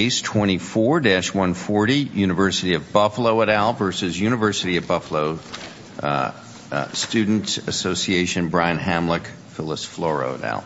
Case 24-140, University of Buffalo et al. v. University at Buffalo Student Association, Brian Hamlick, Phyllis Floro et al.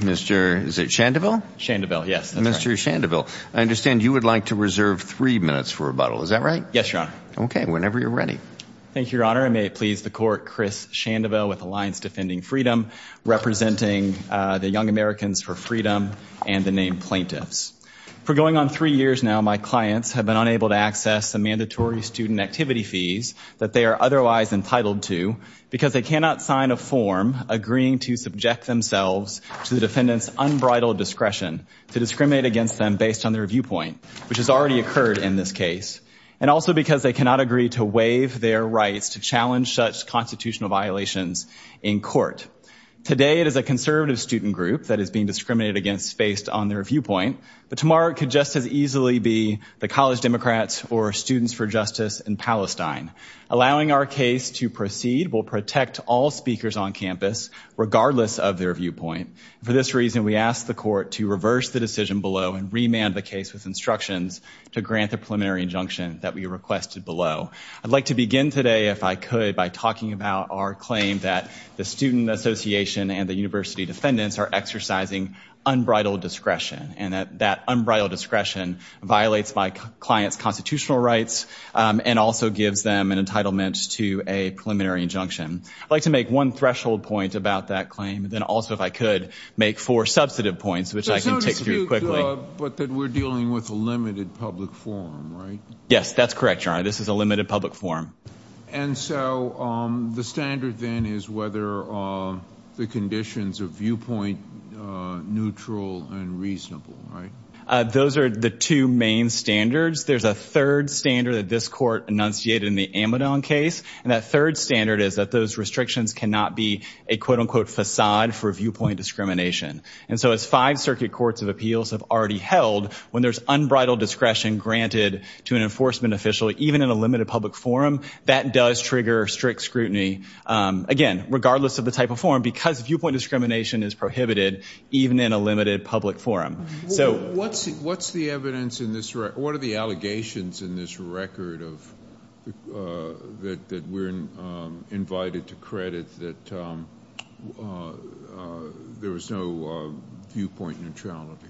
Mr. Chandeville? Chandeville, yes. Mr. Chandeville, I understand you would like to reserve three minutes for rebuttal, is that right? Yes, Your Honor. Okay, whenever you're ready. Thank you, Your Honor. I may it please the Court, Chris Chandeville with Alliance Defending Freedom, representing the Young Americans for Freedom and the named plaintiffs. For going on three years now, my clients have been unable to access the mandatory student activity fees that they are otherwise entitled to because they cannot sign a form agreeing to subject themselves to the defendant's unbridled discretion to discriminate against them based on their viewpoint, which has already occurred in this case, and also because they cannot agree to waive their rights to challenge such constitutional violations in court. Today, it is a conservative student group that is being discriminated against based on their viewpoint, but tomorrow it could just as easily be the College Democrats or Students for Justice in Palestine. Allowing our case to proceed will protect all speakers on campus, regardless of their viewpoint. For this reason, we ask the Court to reverse the decision below and remand the case with instructions to grant the preliminary injunction that we requested below. I'd like to begin today, if I could, by talking about our claim that the Student Association and the university defendants are exercising unbridled discretion, and that that unbridled discretion violates my client's constitutional rights and also gives them an entitlement to a preliminary injunction. I'd like to make one threshold point about that claim, and then also, if I could, make four substantive points, which I can take through quickly. There's no dispute, but that we're dealing with a limited public forum, right? Yes, that's correct, Your Honor. This is a limited public forum. And so the standard then is whether the conditions of viewpoint are neutral and reasonable, right? Those are the two main standards. There's a third standard that this court enunciated in the Amidon case, and that third standard is that those restrictions cannot be a quote-unquote facade for viewpoint discrimination. And so as five circuit courts of appeals have already held, when there's unbridled discretion granted to an enforcement official, even in a limited public forum, that does trigger strict scrutiny, again, regardless of the type of forum, because viewpoint discrimination is prohibited, even in a limited public forum. What's the evidence in this record? What are the allegations in this record that we're invited to credit that there was no viewpoint neutrality?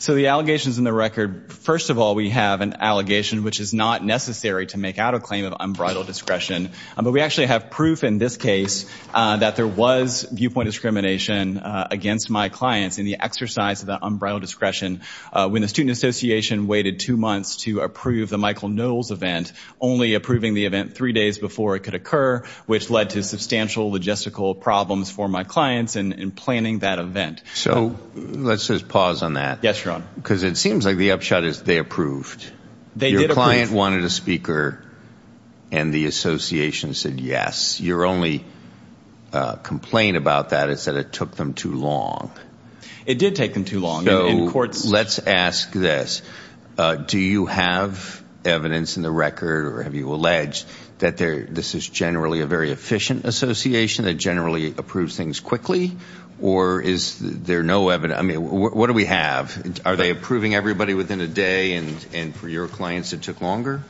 So the allegations in the record, first of all, we have an allegation which is not necessary to make out a claim of unbridled discretion, but we actually have proof in this case that there was viewpoint discrimination against my clients in the exercise of the unbridled discretion when the Student Association waited two months to approve the Michael Knowles event, only approving the event three days before it could occur, which led to substantial logistical problems for my clients in planning that event. So let's just pause on that. Yes, Your Honor. Because it seems like the upshot is they approved. They did approve. Your client wanted a speaker, and the association said yes. Your only complaint about that is that it took them too long. It did take them too long. So let's ask this. Do you have evidence in the record, or have you alleged, that this is generally a very efficient association that generally approves things quickly? Or is there no evidence? I mean, what do we have? Are they approving everybody within a day, and for your clients it took longer?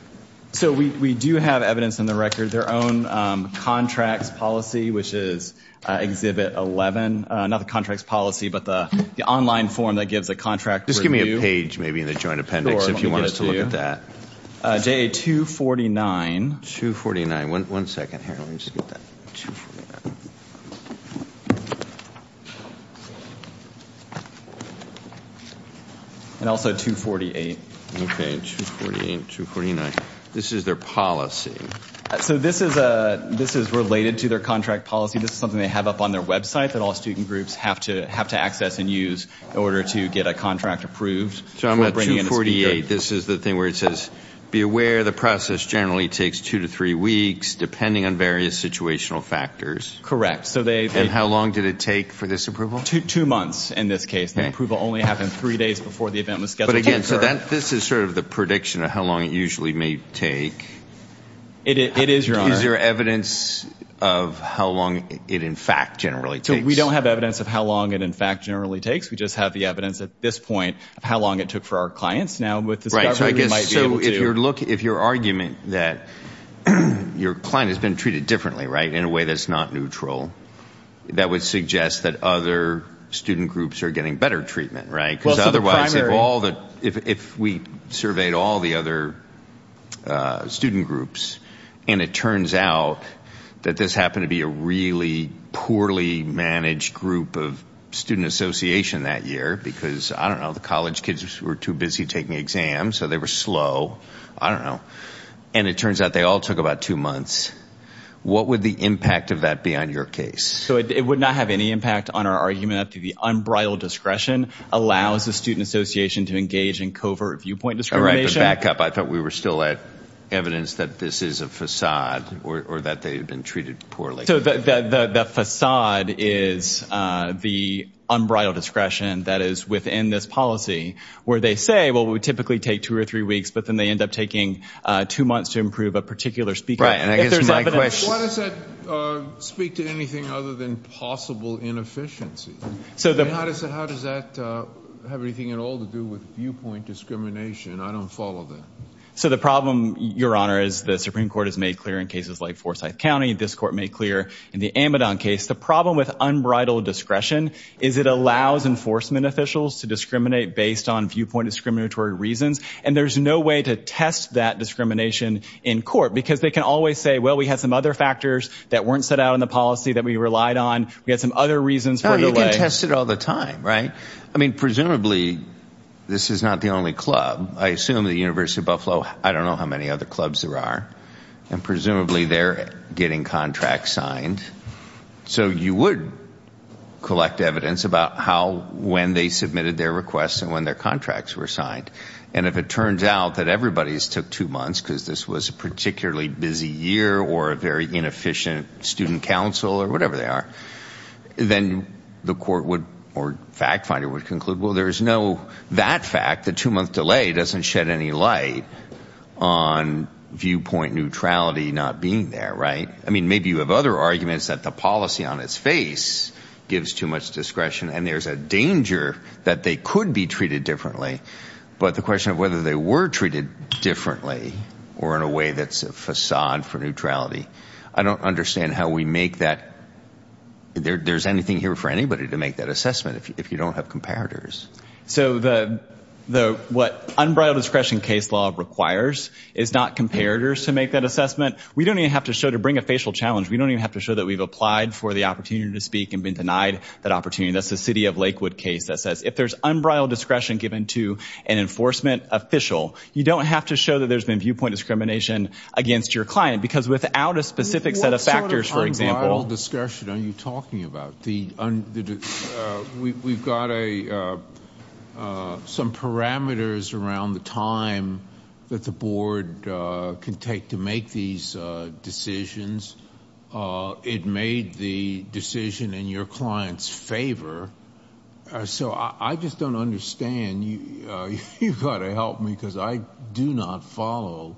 So we do have evidence in the record. Their own contracts policy, which is Exhibit 11. Not the contracts policy, but the online form that gives a contract review. Just give me a page maybe in the joint appendix if you want us to look at that. JA-249. 249. One second. Here, let me just get that. And also 248. Okay, 248, 249. This is their policy. So this is related to their contract policy. This is something they have up on their website that all student groups have to access and use in order to get a contract approved. So I'm at 248. This is the thing where it says, be aware the process generally takes two to three weeks, depending on various situational factors. Correct. And how long did it take for this approval? Two months in this case. The approval only happened three days before the event was scheduled to occur. But again, so this is sort of the prediction of how long it usually may take. It is, Your Honor. Is there evidence of how long it in fact generally takes? So we don't have evidence of how long it in fact generally takes. We just have the evidence at this point of how long it took for our clients. Right, so I guess if your argument that your client has been treated differently, right, in a way that's not neutral, that would suggest that other student groups are getting better treatment, right? Because otherwise if we surveyed all the other student groups and it turns out that this happened to be a really poorly managed group of student association that year because, I don't know, the college kids were too busy taking exams, so they were slow, I don't know, and it turns out they all took about two months, what would the impact of that be on your case? So it would not have any impact on our argument that the unbridled discretion allows the student association to engage in covert viewpoint discrimination. All right, but back up. I thought we were still at evidence that this is a facade or that they had been treated poorly. So the facade is the unbridled discretion that is within this policy where they say, well, it would typically take two or three weeks, but then they end up taking two months to improve a particular speaker. Why does that speak to anything other than possible inefficiency? How does that have anything at all to do with viewpoint discrimination? I don't follow that. So the problem, Your Honor, is the Supreme Court has made clear in cases like Forsyth County. This court made clear in the Amidon case. The problem with unbridled discretion is it allows enforcement officials to discriminate based on viewpoint discriminatory reasons, and there's no way to test that discrimination in court because they can always say, well, we had some other factors that weren't set out in the policy that we relied on. We had some other reasons. You can test it all the time, right? I mean, presumably this is not the only club. I assume the University of Buffalo, I don't know how many other clubs there are, and presumably they're getting contracts signed. So you would collect evidence about how, when they submitted their requests and when their contracts were signed. And if it turns out that everybody's took two months because this was a particularly busy year or a very inefficient student council or whatever they are, then the court would or fact finder would conclude, well, there's no that fact. The two-month delay doesn't shed any light on viewpoint neutrality not being there, right? I mean, maybe you have other arguments that the policy on its face gives too much discretion, and there's a danger that they could be treated differently, but the question of whether they were treated differently or in a way that's a facade for neutrality, I don't understand how we make that. There's anything here for anybody to make that assessment if you don't have comparators. So what unbridled discretion case law requires is not comparators to make that assessment. We don't even have to show to bring a facial challenge. We don't even have to show that we've applied for the opportunity to speak and been denied that opportunity. That's the city of Lakewood case that says if there's unbridled discretion given to an enforcement official, you don't have to show that there's been viewpoint discrimination against your client because without a specific set of factors, for example. What unbridled discretion are you talking about? We've got some parameters around the time that the board can take to make these decisions. It made the decision in your client's favor. So I just don't understand. You've got to help me because I do not follow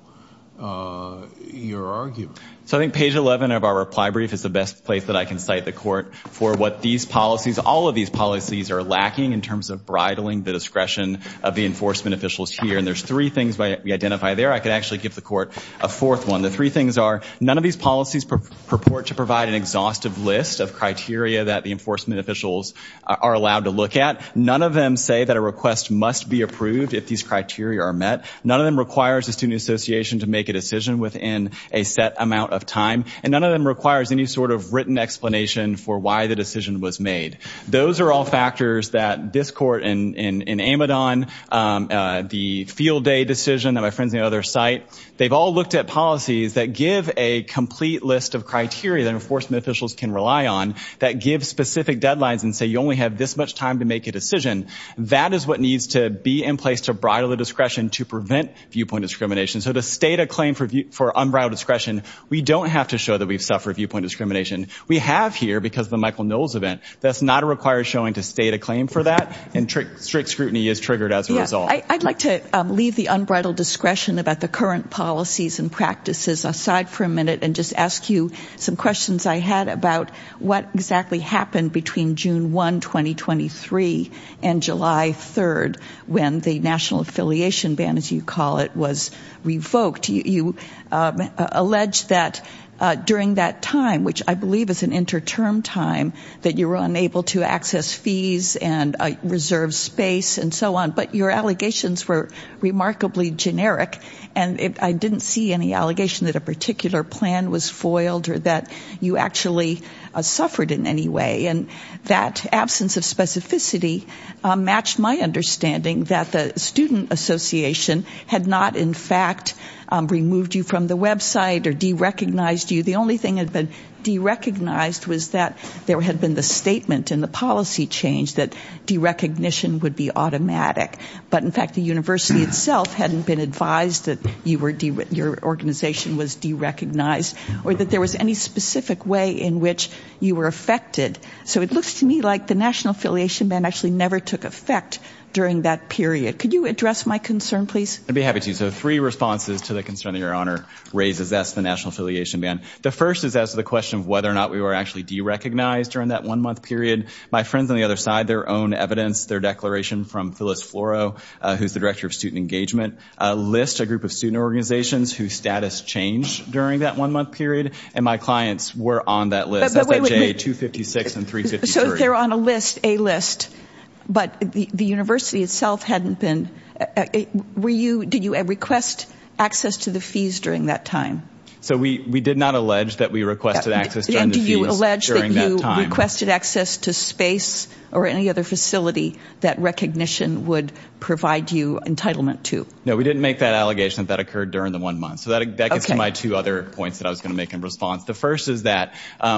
your argument. So I think page 11 of our reply brief is the best place that I can cite the court for what these policies, all of these policies are lacking in terms of bridling the discretion of the enforcement officials here. And there's three things we identify there. I could actually give the court a fourth one. The three things are none of these policies purport to provide an exhaustive list of criteria that the enforcement officials are allowed to look at. None of them say that a request must be approved if these criteria are met. None of them requires the student association to make a decision within a set amount of time. And none of them requires any sort of written explanation for why the decision was made. Those are all factors that this court in Amidon, the field day decision that my friends at the other site, they've all looked at policies that give a complete list of criteria that enforcement officials can rely on that give specific deadlines and say you only have this much time to make a decision. That is what needs to be in place to bridle the discretion to prevent viewpoint discrimination. So to state a claim for unbridled discretion, we don't have to show that we've suffered viewpoint discrimination. We have here because of the Michael Knowles event. That's not a required showing to state a claim for that. And strict scrutiny is triggered as a result. I'd like to leave the unbridled discretion about the current policies and practices aside for a minute and just ask you some questions I had about what exactly happened between June 1, 2023, and July 3rd when the national affiliation ban, as you call it, was revoked. You allege that during that time, which I believe is an interterm time, that you were unable to access fees and reserve space and so on, but your allegations were remarkably generic. And I didn't see any allegation that a particular plan was foiled or that you actually suffered in any way. And that absence of specificity matched my understanding that the student association had not, in fact, removed you from the website or derecognized you. The only thing that had been derecognized was that there had been the statement in the policy change that derecognition would be automatic. But, in fact, the university itself hadn't been advised that your organization was derecognized or that there was any specific way in which you were affected. So it looks to me like the national affiliation ban actually never took effect during that period. Could you address my concern, please? I'd be happy to. So three responses to the concern that Your Honor raises as to the national affiliation ban. The first is as to the question of whether or not we were actually derecognized during that one-month period. My friends on the other side, their own evidence, their declaration from Phyllis Floro, who's the director of student engagement, list a group of student organizations whose status changed during that one-month period. And my clients were on that list. That's at J256 and 353. So they're on a list, a list. But the university itself hadn't been. Did you request access to the fees during that time? So we did not allege that we requested access during the fees during that time. You did not allege that you requested access to space or any other facility that recognition would provide you entitlement to. No, we didn't make that allegation. That occurred during the one month. So that gets to my two other points that I was going to make in response. The first is that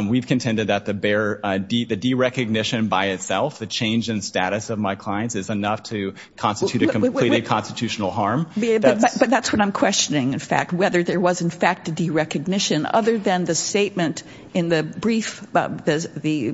we've contended that the derecognition by itself, the change in status of my clients, is enough to constitute a completely constitutional harm. But that's what I'm questioning, in fact, whether there was, in fact, a derecognition, other than the statement in the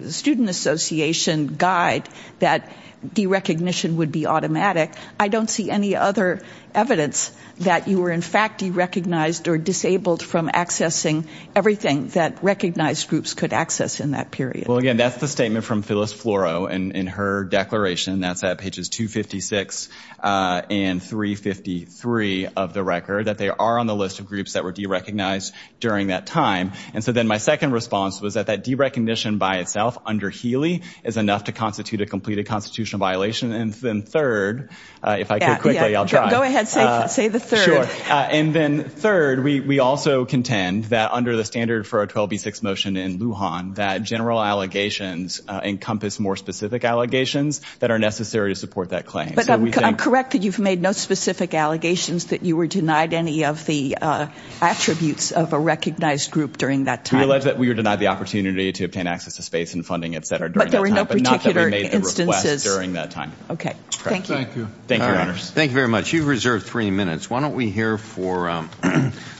student association guide that derecognition would be automatic. I don't see any other evidence that you were, in fact, derecognized or disabled from accessing everything that recognized groups could access in that period. Well, again, that's the statement from Phyllis Floro in her declaration. That's at pages 256 and 353 of the record, that they are on the list of groups that were derecognized during that time. And so then my second response was that that derecognition by itself, under Healy, is enough to constitute a completed constitutional violation. And then third, if I could quickly, I'll try. Go ahead, say the third. And then third, we also contend that under the standard for a 12B6 motion in Lujan, that general allegations encompass more specific allegations that are necessary to support that claim. But I'm correct that you've made no specific allegations that you were denied any of the attributes of a recognized group during that time. We allege that we were denied the opportunity to obtain access to space and funding, et cetera, during that time, but not that we made a request during that time. Okay, thank you. Thank you very much. You've reserved three minutes. Why don't we hear for,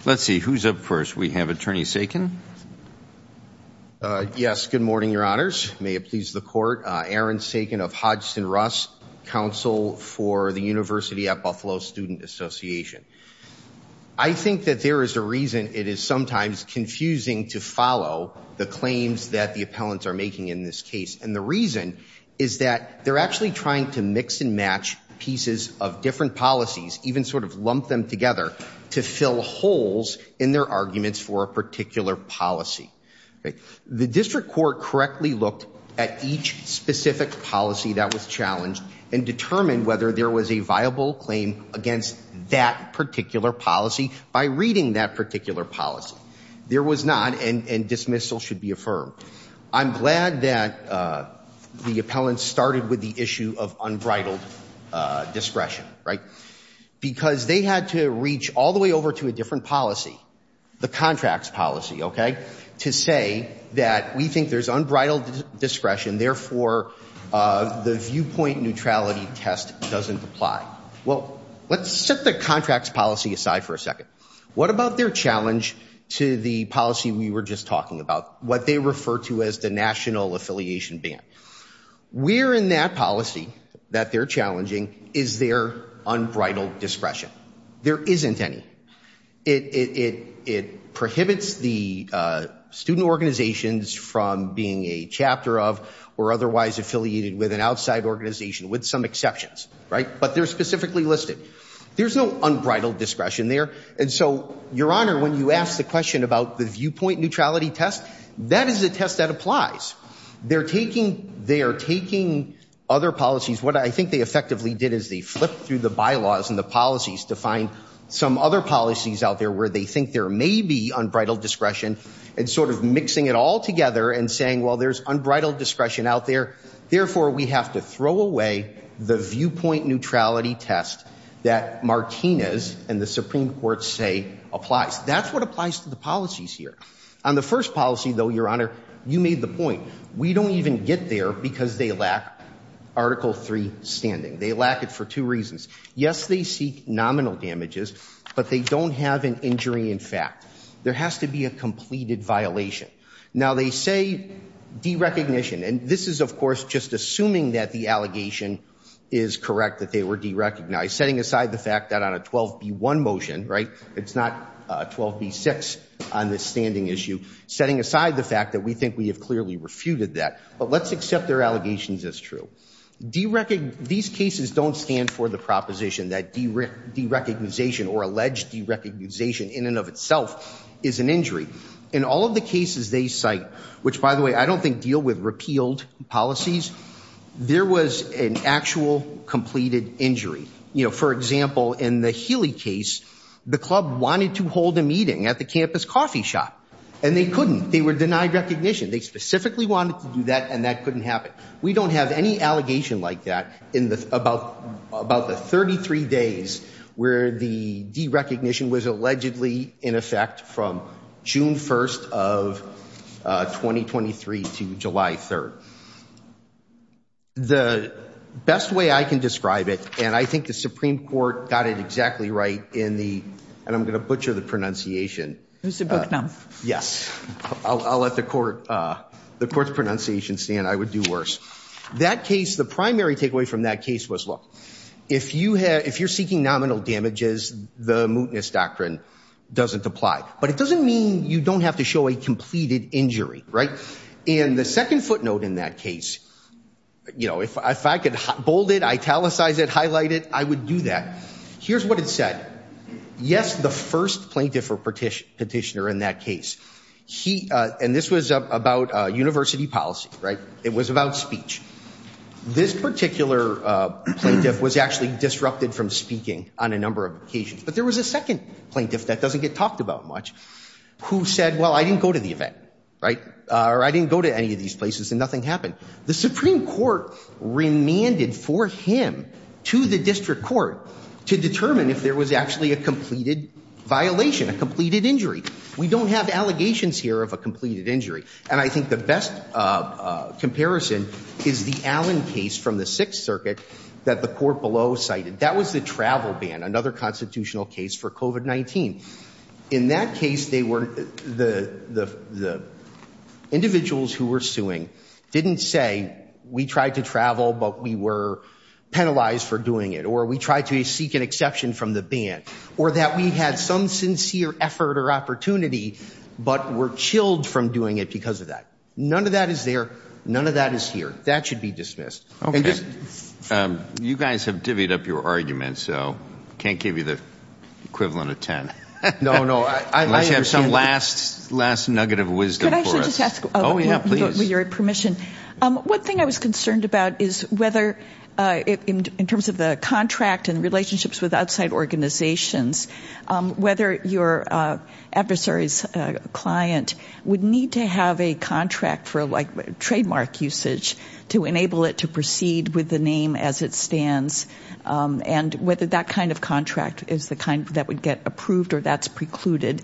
let's see, who's up first? We have Attorney Sagan. Yes, good morning, Your Honors. May it please the Court. Aaron Sagan of Hodgson-Russ Counsel for the University at Buffalo Student Association. I think that there is a reason it is sometimes confusing to follow the claims that the appellants are making in this case. And the reason is that they're actually trying to mix and match pieces of different policies, even sort of lump them together, to fill holes in their arguments for a particular policy. The district court correctly looked at each specific policy that was challenged and determined whether there was a viable claim against that particular policy by reading that particular policy. There was not, and dismissal should be affirmed. I'm glad that the appellants started with the issue of unbridled discretion, right? Because they had to reach all the way over to a different policy, the contracts policy, okay? To say that we think there's unbridled discretion, therefore the viewpoint neutrality test doesn't apply. Well, let's set the contracts policy aside for a second. What about their challenge to the policy we were just talking about, what they refer to as the national affiliation ban? Where in that policy that they're challenging is there unbridled discretion? There isn't any. It prohibits the student organizations from being a chapter of or otherwise affiliated with an outside organization with some exceptions, right? But they're specifically listed. There's no unbridled discretion there. And so, Your Honor, when you ask the question about the viewpoint neutrality test, that is a test that applies. They're taking other policies. What I think they effectively did is they flipped through the bylaws and the policies to find some other policies out there where they think there may be unbridled discretion and sort of mixing it all together and saying, well, there's unbridled discretion out there. Therefore, we have to throw away the viewpoint neutrality test that Martinez and the Supreme Court say applies. That's what applies to the policies here. On the first policy, though, Your Honor, you made the point. We don't even get there because they lack Article 3 standing. They lack it for two reasons. Yes, they seek nominal damages, but they don't have an injury in fact. There has to be a completed violation. Now, they say derecognition. And this is, of course, just assuming that the allegation is correct, that they were derecognized, setting aside the fact that on a 12B1 motion, right, it's not 12B6 on this standing issue, setting aside the fact that we think we have clearly refuted that. But let's accept their allegations as true. These cases don't stand for the proposition that derecognization or alleged derecognization in and of itself is an injury. In all of the cases they cite, which, by the way, I don't think deal with repealed policies, there was an actual completed injury. For example, in the Healy case, the club wanted to hold a meeting at the campus coffee shop. And they couldn't. They were denied recognition. They specifically wanted to do that, and that couldn't happen. We don't have any allegation like that in about the 33 days where the derecognition was allegedly in effect from June 1st of 2023 to July 3rd. The best way I can describe it, and I think the Supreme Court got it exactly right in the, and I'm going to butcher the pronunciation. I'll let the court's pronunciation stand. I would do worse. That case, the primary takeaway from that case was, look, if you're seeking nominal damages, the mootness doctrine doesn't apply. But it doesn't mean you don't have to show a completed injury, right? And the second footnote in that case, you know, if I could bold it, italicize it, highlight it, I would do that. Here's what it said. Yes, the first plaintiff or petitioner in that case, he, and this was about university policy, right? It was about speech. This particular plaintiff was actually disrupted from speaking on a number of occasions. But there was a second plaintiff that doesn't get talked about much who said, well, I didn't go to the event, right? Or I didn't go to any of these places, and nothing happened. The Supreme Court remanded for him to the district court to determine if there was actually a completed violation, a completed injury. We don't have allegations here of a completed injury. And I think the best comparison is the Allen case from the Sixth Circuit that the court below cited. That was the travel ban, another constitutional case for COVID-19. In that case, the individuals who were suing didn't say, we tried to travel, but we were penalized for doing it. Or we tried to seek an exception from the ban. Or that we had some sincere effort or opportunity, but were chilled from doing it because of that. None of that is there. None of that is here. That should be dismissed. Okay. You guys have divvied up your arguments, so I can't give you the equivalent of 10. No, no. Unless you have some last nugget of wisdom for us. Can I actually just ask, with your permission, one thing I was concerned about is whether, in terms of the contract and relationships with outside organizations, whether your adversary's client would need to have a contract for, like, trademark usage to enable it to proceed with the name as it stands. And whether that kind of contract is the kind that would get approved or that's precluded.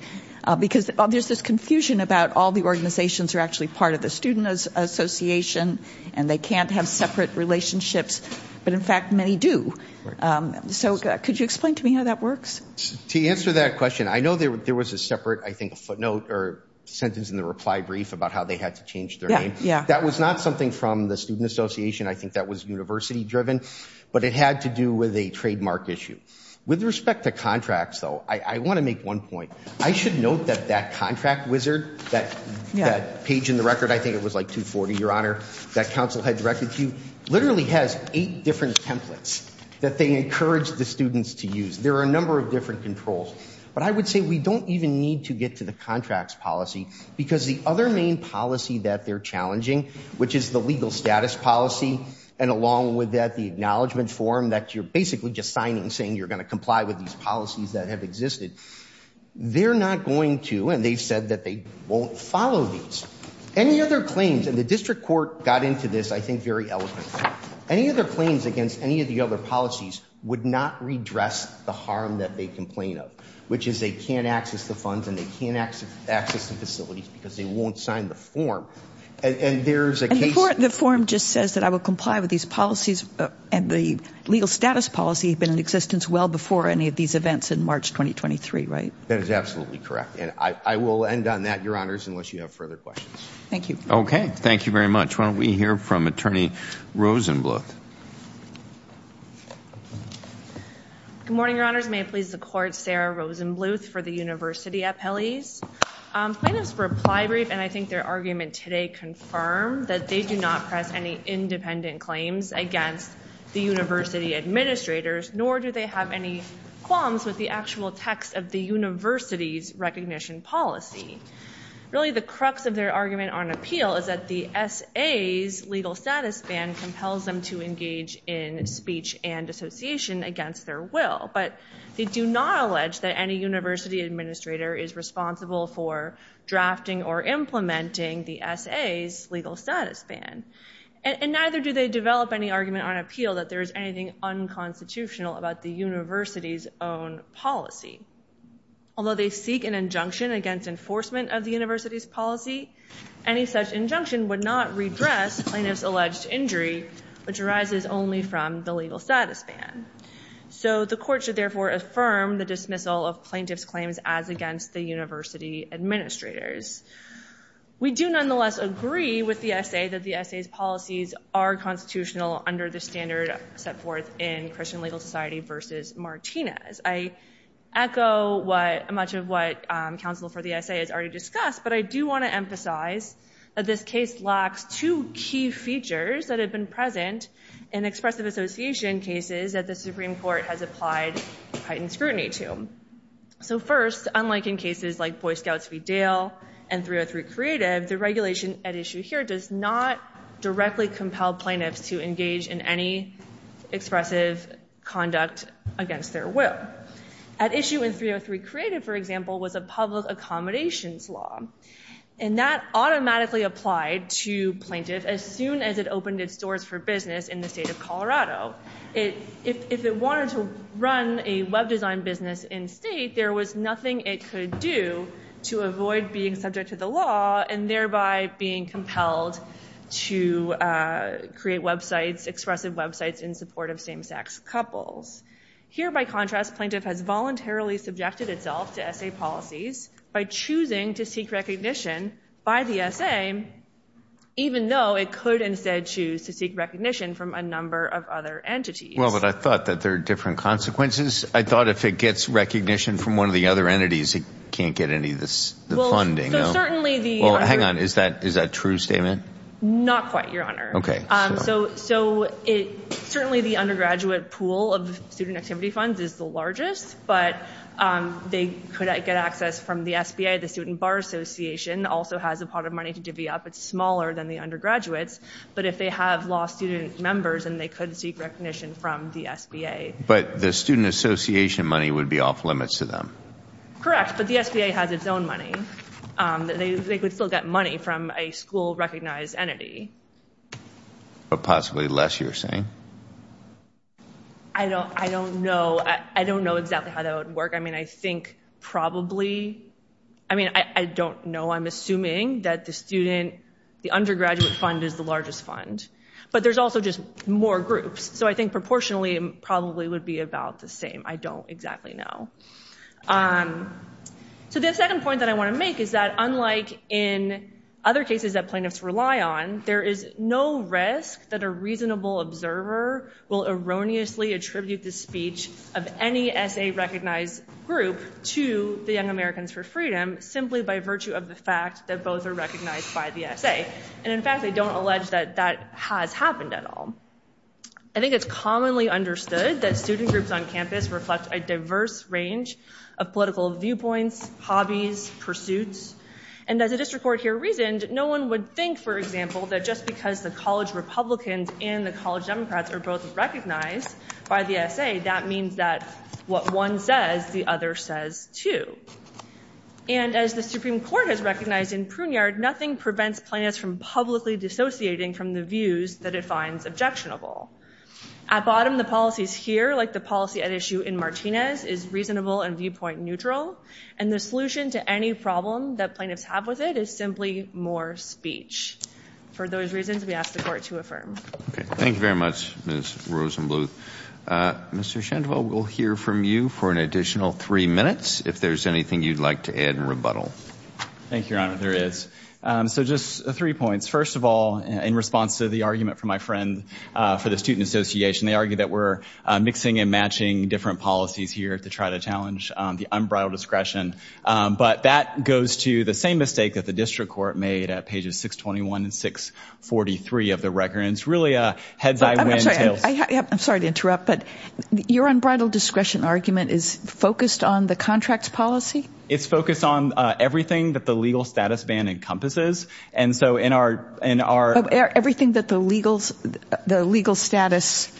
Because there's this confusion about all the organizations are actually part of the student association, and they can't have separate relationships. But, in fact, many do. So could you explain to me how that works? To answer that question, I know there was a separate, I think, footnote or sentence in the reply brief about how they had to change their name. That was not something from the student association. I think that was university-driven. But it had to do with a trademark issue. With respect to contracts, though, I want to make one point. I should note that that contract wizard, that page in the record, I think it was like 240, Your Honor, that counsel had directed to you, literally has eight different templates that they encourage the students to use. There are a number of different controls. But I would say we don't even need to get to the contracts policy, because the other main policy that they're challenging, which is the legal status policy, and along with that the acknowledgment form that you're basically just signing, saying you're going to comply with these policies that have existed, they're not going to, and they've said that they won't follow these. Any other claims, and the district court got into this, I think, very eloquently, any other claims against any of the other policies would not redress the harm that they complain of, which is they can't access the funds and they can't access the facilities because they won't sign the form. And there's a case of the form just says that I will comply with these policies and the legal status policy had been in existence well before any of these events in March 2023, right? That is absolutely correct. And I will end on that, Your Honors, unless you have further questions. Thank you. Okay. Thank you very much. Why don't we hear from Attorney Rosenbluth. Good morning, Your Honors. May it please the Court, Sarah Rosenbluth for the University Appellees. Plaintiffs' reply brief, and I think their argument today, confirmed that they do not press any independent claims against the university administrators, nor do they have any qualms with the actual text of the university's recognition policy. Really the crux of their argument on appeal is that the SA's legal status ban compels them to engage in speech and association against their will. But they do not allege that any university administrator is responsible for drafting or implementing the SA's legal status ban. And neither do they develop any argument on appeal that there is anything unconstitutional about the university's own policy. Although they seek an injunction against enforcement of the university's policy, any such injunction would not redress plaintiff's alleged injury, which arises only from the legal status ban. So the Court should therefore affirm the dismissal of plaintiff's claims as against the university administrators. We do nonetheless agree with the SA that the SA's policies are constitutional under the standard set forth in Christian Legal Society v. Martinez. I echo much of what counsel for the SA has already discussed, but I do want to emphasize that this case lacks two key features that have been present in expressive association cases that the Supreme Court has applied heightened scrutiny to. So first, unlike in cases like Boy Scouts v. Dale and 303 Creative, the regulation at issue here does not directly compel plaintiffs to engage in any expressive conduct against their will. At issue in 303 Creative, for example, was a public accommodations law. And that automatically applied to plaintiff as soon as it opened its doors for business in the state of Colorado. If it wanted to run a web design business in state, there was nothing it could do to avoid being subject to the law and thereby being compelled to create websites, expressive websites in support of same-sex couples. Here, by contrast, plaintiff has voluntarily subjected itself to SA policies by choosing to seek recognition by the SA, even though it could instead choose to seek recognition from a number of other entities. Well, but I thought that there are different consequences. I thought if it gets recognition from one of the other entities, it can't get any of the funding. Hang on. Is that a true statement? Not quite, Your Honor. So certainly the undergraduate pool of student activity funds is the largest, but they could get access from the SBA. The Student Bar Association also has a pot of money to divvy up. It's smaller than the undergraduates. But if they have law student members, then they could seek recognition from the SBA. But the Student Association money would be off limits to them. Correct, but the SBA has its own money. They could still get money from a school-recognized entity. But possibly less, you're saying? I don't know. I don't know exactly how that would work. I mean, I think probably, I mean, I don't know. I'm assuming that the undergraduate fund is the largest fund. But there's also just more groups. So I think proportionally it probably would be about the same. I don't exactly know. So the second point that I want to make is that unlike in other cases that plaintiffs rely on, there is no risk that a reasonable observer will erroneously attribute the speech of any SA-recognized group to the Young Americans for Freedom simply by virtue of the fact that both are recognized by the SA. And in fact, I don't allege that that has happened at all. I think it's commonly understood that student groups on campus reflect a diverse range of political viewpoints, hobbies, pursuits. And as the district court here reasoned, no one would think, for example, that just because the college Republicans and the college Democrats are both recognized by the SA, that means that what one says, the other says too. And as the Supreme Court has recognized in Pruneyard, nothing prevents plaintiffs from publicly dissociating from the views that it finds objectionable. At bottom, the policies here, like the policy at issue in Martinez, is reasonable and viewpoint neutral. And the solution to any problem that plaintiffs have with it is simply more speech. For those reasons, we ask the Court to affirm. Thank you very much, Ms. Rosenbluth. Mr. Shentwell, we'll hear from you for an additional three minutes, if there's anything you'd like to add in rebuttal. Thank you, Your Honor. There is. So just three points. First of all, in response to the argument from my friend for the Student Association, they argue that we're mixing and matching different policies here to try to challenge the unbridled discretion. But that goes to the same mistake that the district court made at pages 621 and 643 of the record. And it's really a heads-I-win-tails- I'm sorry to interrupt, but your unbridled discretion argument is focused on the contracts policy? It's focused on everything that the legal status ban encompasses. And so in our Everything that the legal status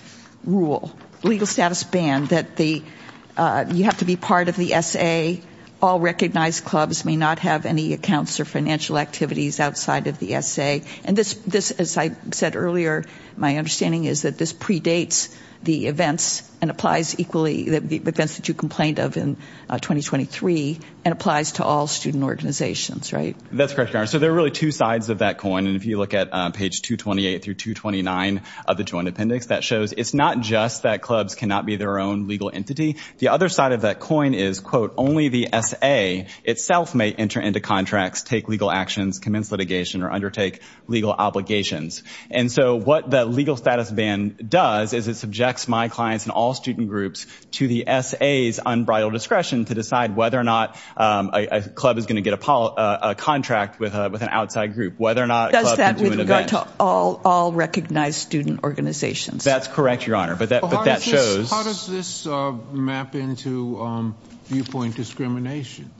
rule, legal status ban, that you have to be part of the SA, all recognized clubs may not have any accounts or financial activities outside of the SA. And this, as I said earlier, my understanding is that this predates the events and applies equally, the events that you complained of in 2023, and applies to all student organizations, right? That's correct, Your Honor. So there are really two sides of that coin. And if you look at page 228 through 229 of the Joint Appendix, that shows it's not just that clubs cannot be their own legal entity. The other side of that coin is, quote, only the SA itself may enter into contracts, take legal actions, commence litigation, or undertake legal obligations. And so what the legal status ban does is it subjects my clients and all student groups to the SA's unbridled discretion to decide whether or not a club is going to get a contract with an outside group, whether or not a club can do an event. Does that with regard to all recognized student organizations? That's correct, Your Honor, but that shows How does this map into viewpoint discrimination?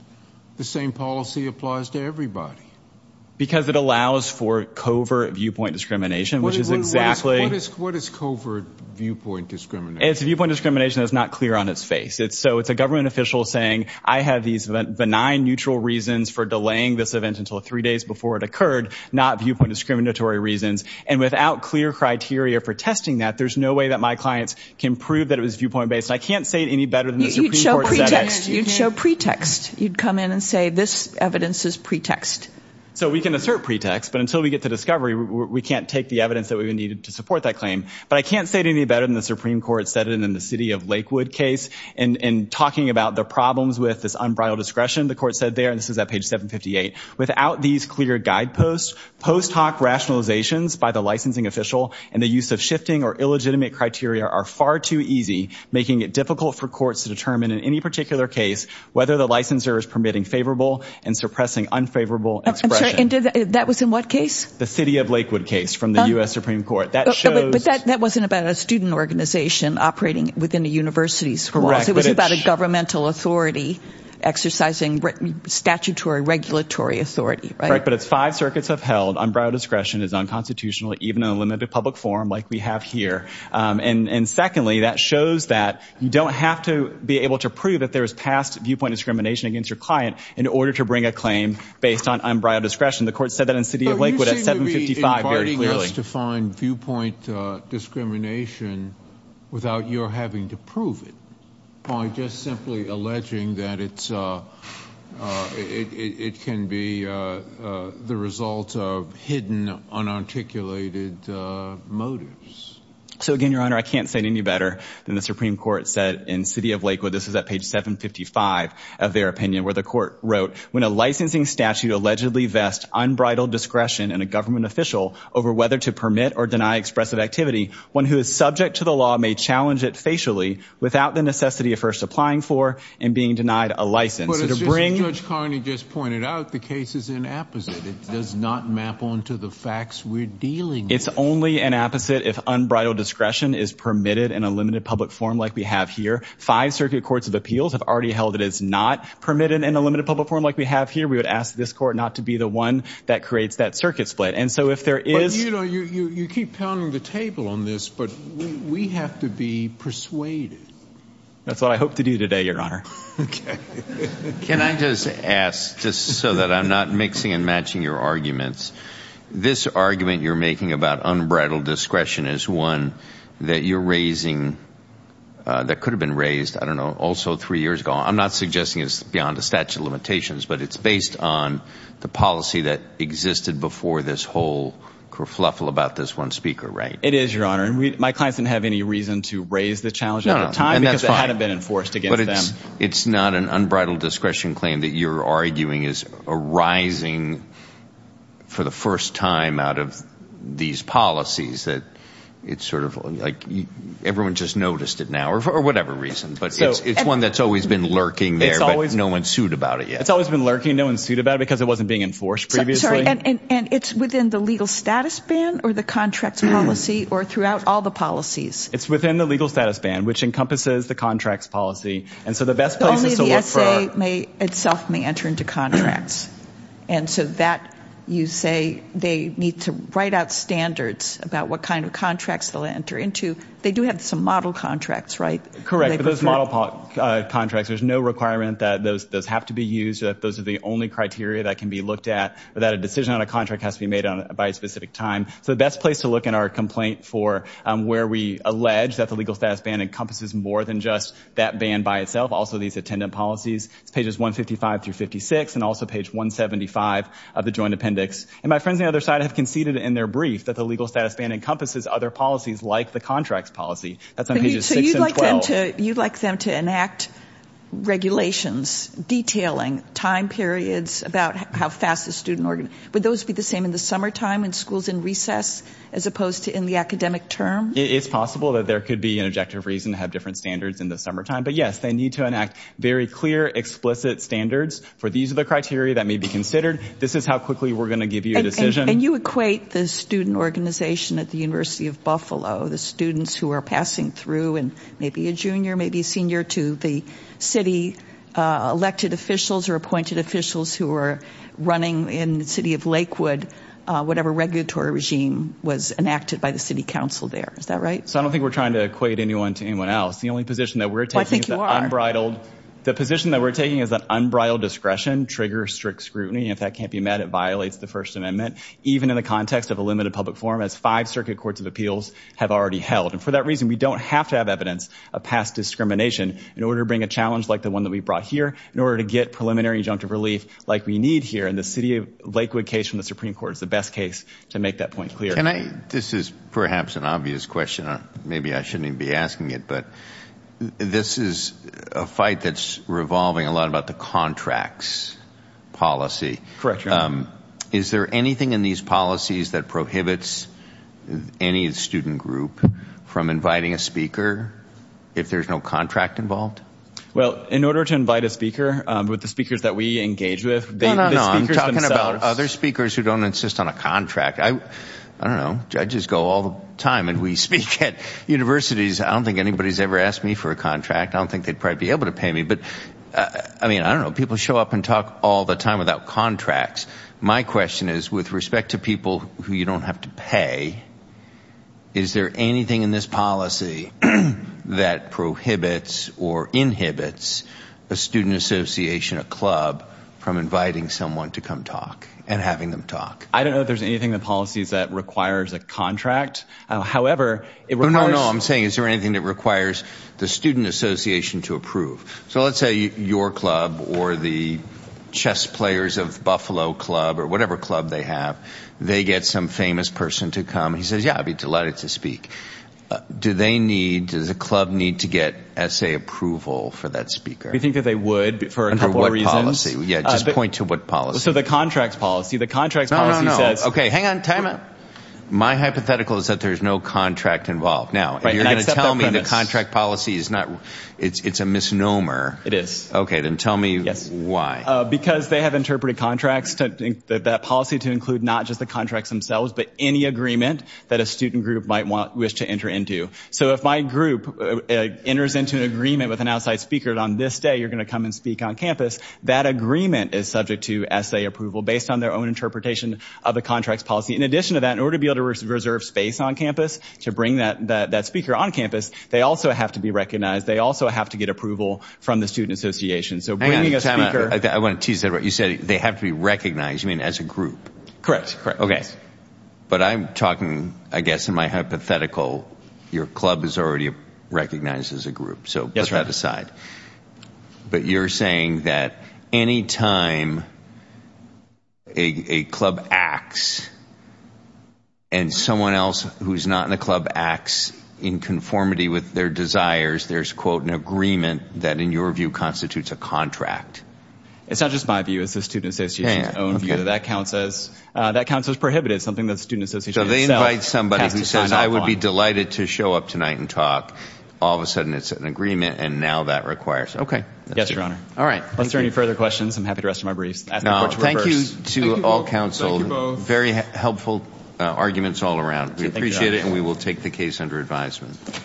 The same policy applies to everybody. Because it allows for covert viewpoint discrimination, which is exactly What is covert viewpoint discrimination? It's viewpoint discrimination that's not clear on its face. So it's a government official saying, I have these benign neutral reasons for delaying this event until three days before it occurred, not viewpoint discriminatory reasons. And without clear criteria for testing that, there's no way that my clients can prove that it was viewpoint-based. I can't say it any better than the Supreme Court said it. You'd show pretext. You'd come in and say, this evidence is pretext. So we can assert pretext, but until we get to discovery, we can't take the evidence that we would need to support that claim. But I can't say it any better than the Supreme Court said it in the city of Lakewood case. In talking about the problems with this unbridled discretion, the court said there, and this is at page 758, without these clear guideposts, post hoc rationalizations by the licensing official and the use of shifting or illegitimate criteria are far too easy, making it difficult for courts to determine in any particular case whether the licensor is permitting favorable and suppressing unfavorable expression. And that was in what case? The city of Lakewood case from the U.S. Supreme Court. But that wasn't about a student organization operating within the university's walls. It was about a governmental authority exercising statutory regulatory authority. But it's five circuits upheld. Unbridled discretion is unconstitutional, even in a limited public forum like we have here. And secondly, that shows that you don't have to be able to prove that there is past viewpoint discrimination against your client in order to bring a claim based on unbridled discretion. But you seem to be inviting us to find viewpoint discrimination without your having to prove it by just simply alleging that it can be the result of hidden, unarticulated motives. So, again, Your Honor, I can't say it any better than the Supreme Court said in city of Lakewood. This is at page 755 of their opinion where the court wrote, When a licensing statute allegedly vests unbridled discretion in a government official over whether to permit or deny expressive activity, one who is subject to the law may challenge it facially without the necessity of first applying for and being denied a license. But as Judge Carney just pointed out, the case is an apposite. It does not map onto the facts we're dealing with. It's only an apposite if unbridled discretion is permitted in a limited public forum like we have here. Five circuit courts of appeals have already held it is not permitted in a limited public forum like we have here. We would ask this court not to be the one that creates that circuit split. And so if there is – But, you know, you keep pounding the table on this, but we have to be persuaded. That's what I hope to do today, Your Honor. Can I just ask, just so that I'm not mixing and matching your arguments, this argument you're making about unbridled discretion is one that you're raising that could have been raised, I don't know, also three years ago. I'm not suggesting it's beyond the statute of limitations, but it's based on the policy that existed before this whole kerfuffle about this one speaker, right? It is, Your Honor. And my clients didn't have any reason to raise the challenge at the time because it hadn't been enforced against them. It's not an unbridled discretion claim that you're arguing is arising for the first time out of these policies that it's sort of like everyone just noticed it now or for whatever reason. But it's one that's always been lurking there, but no one sued about it yet. It's always been lurking. No one sued about it because it wasn't being enforced previously. And it's within the legal status ban or the contracts policy or throughout all the policies? It's within the legal status ban, which encompasses the contracts policy. And so the best place is to look for – Only the S.A. itself may enter into contracts. And so that you say they need to write out standards about what kind of contracts they'll enter into. They do have some model contracts, right? Correct. But those model contracts, there's no requirement that those have to be used, that those are the only criteria that can be looked at, or that a decision on a contract has to be made by a specific time. So the best place to look in our complaint for where we allege that the legal status ban encompasses more than just that ban by itself, also these attendant policies is pages 155 through 56 and also page 175 of the joint appendix. And my friends on the other side have conceded in their brief that the legal status ban encompasses other policies like the contracts policy. That's on pages 6 and 12. So you'd like them to enact regulations detailing time periods about how fast the student – would those be the same in the summertime in schools in recess as opposed to in the academic term? It's possible that there could be an objective reason to have different standards in the summertime. But yes, they need to enact very clear, explicit standards for these are the criteria that may be considered. This is how quickly we're going to give you a decision. And you equate the student organization at the University of Buffalo, the students who are passing through and maybe a junior, maybe a senior, to the city elected officials or appointed officials who are running in the city of Lakewood, whatever regulatory regime was enacted by the city council there. Is that right? So I don't think we're trying to equate anyone to anyone else. The only position that we're taking is that unbridled – The position that we're taking is that unbridled discretion triggers strict scrutiny. And if that can't be met, it violates the First Amendment, even in the context of a limited public forum as five circuit courts of appeals have already held. And for that reason, we don't have to have evidence of past discrimination in order to bring a challenge like the one that we brought here, in order to get preliminary injunctive relief like we need here. And the city of Lakewood case from the Supreme Court is the best case to make that point clear. Can I – this is perhaps an obvious question. Maybe I shouldn't even be asking it. But this is a fight that's revolving a lot about the contracts policy. Correct. Is there anything in these policies that prohibits any student group from inviting a speaker if there's no contract involved? Well, in order to invite a speaker, with the speakers that we engage with, the speakers themselves – No, no, no. I'm talking about other speakers who don't insist on a contract. I don't know. Judges go all the time and we speak at universities. I don't think anybody's ever asked me for a contract. I don't think they'd probably be able to pay me. But, I mean, I don't know. People show up and talk all the time without contracts. My question is, with respect to people who you don't have to pay, is there anything in this policy that prohibits or inhibits a student association, a club, from inviting someone to come talk and having them talk? I don't know if there's anything in the policies that requires a contract. However, it requires – No, no, no. I'm saying is there anything that requires the student association to approve? So, let's say your club or the chess players of Buffalo Club or whatever club they have, they get some famous person to come. He says, yeah, I'd be delighted to speak. Does a club need to get essay approval for that speaker? We think that they would for a couple of reasons. Under what policy? Yeah, just point to what policy. So, the contracts policy. The contracts policy says – Okay, hang on. My hypothetical is that there's no contract involved. Now, you're going to tell me the contract policy is not – it's a misnomer. It is. Okay, then tell me why. Because they have interpreted contracts, that policy to include not just the contracts themselves, but any agreement that a student group might wish to enter into. So, if my group enters into an agreement with an outside speaker on this day, you're going to come and speak on campus, that agreement is subject to essay approval based on their own interpretation of the contracts policy. In addition to that, in order to be able to reserve space on campus to bring that speaker on campus, they also have to be recognized. They also have to get approval from the student association. So, bringing a speaker – I want to tease that. You said they have to be recognized. You mean as a group? Correct. Okay. But I'm talking, I guess, in my hypothetical, your club is already recognized as a group. So, put that aside. Yes, sir. But you're saying that any time a club acts and someone else who's not in a club acts in conformity with their desires, there's, quote, an agreement that, in your view, constitutes a contract. It's not just my view. It's the student association's own view. That counts as prohibited. It's something that the student association itself has to sign off on. So, they invite somebody who says, I would be delighted to show up tonight and talk. All of a sudden, it's an agreement, and now that requires – Okay. Yes, Your Honor. All right. If there are any further questions, I'm happy to restore my briefs. Thank you to all counsel. Thank you both. Very helpful arguments all around. We appreciate it, and we will take the case under advisement.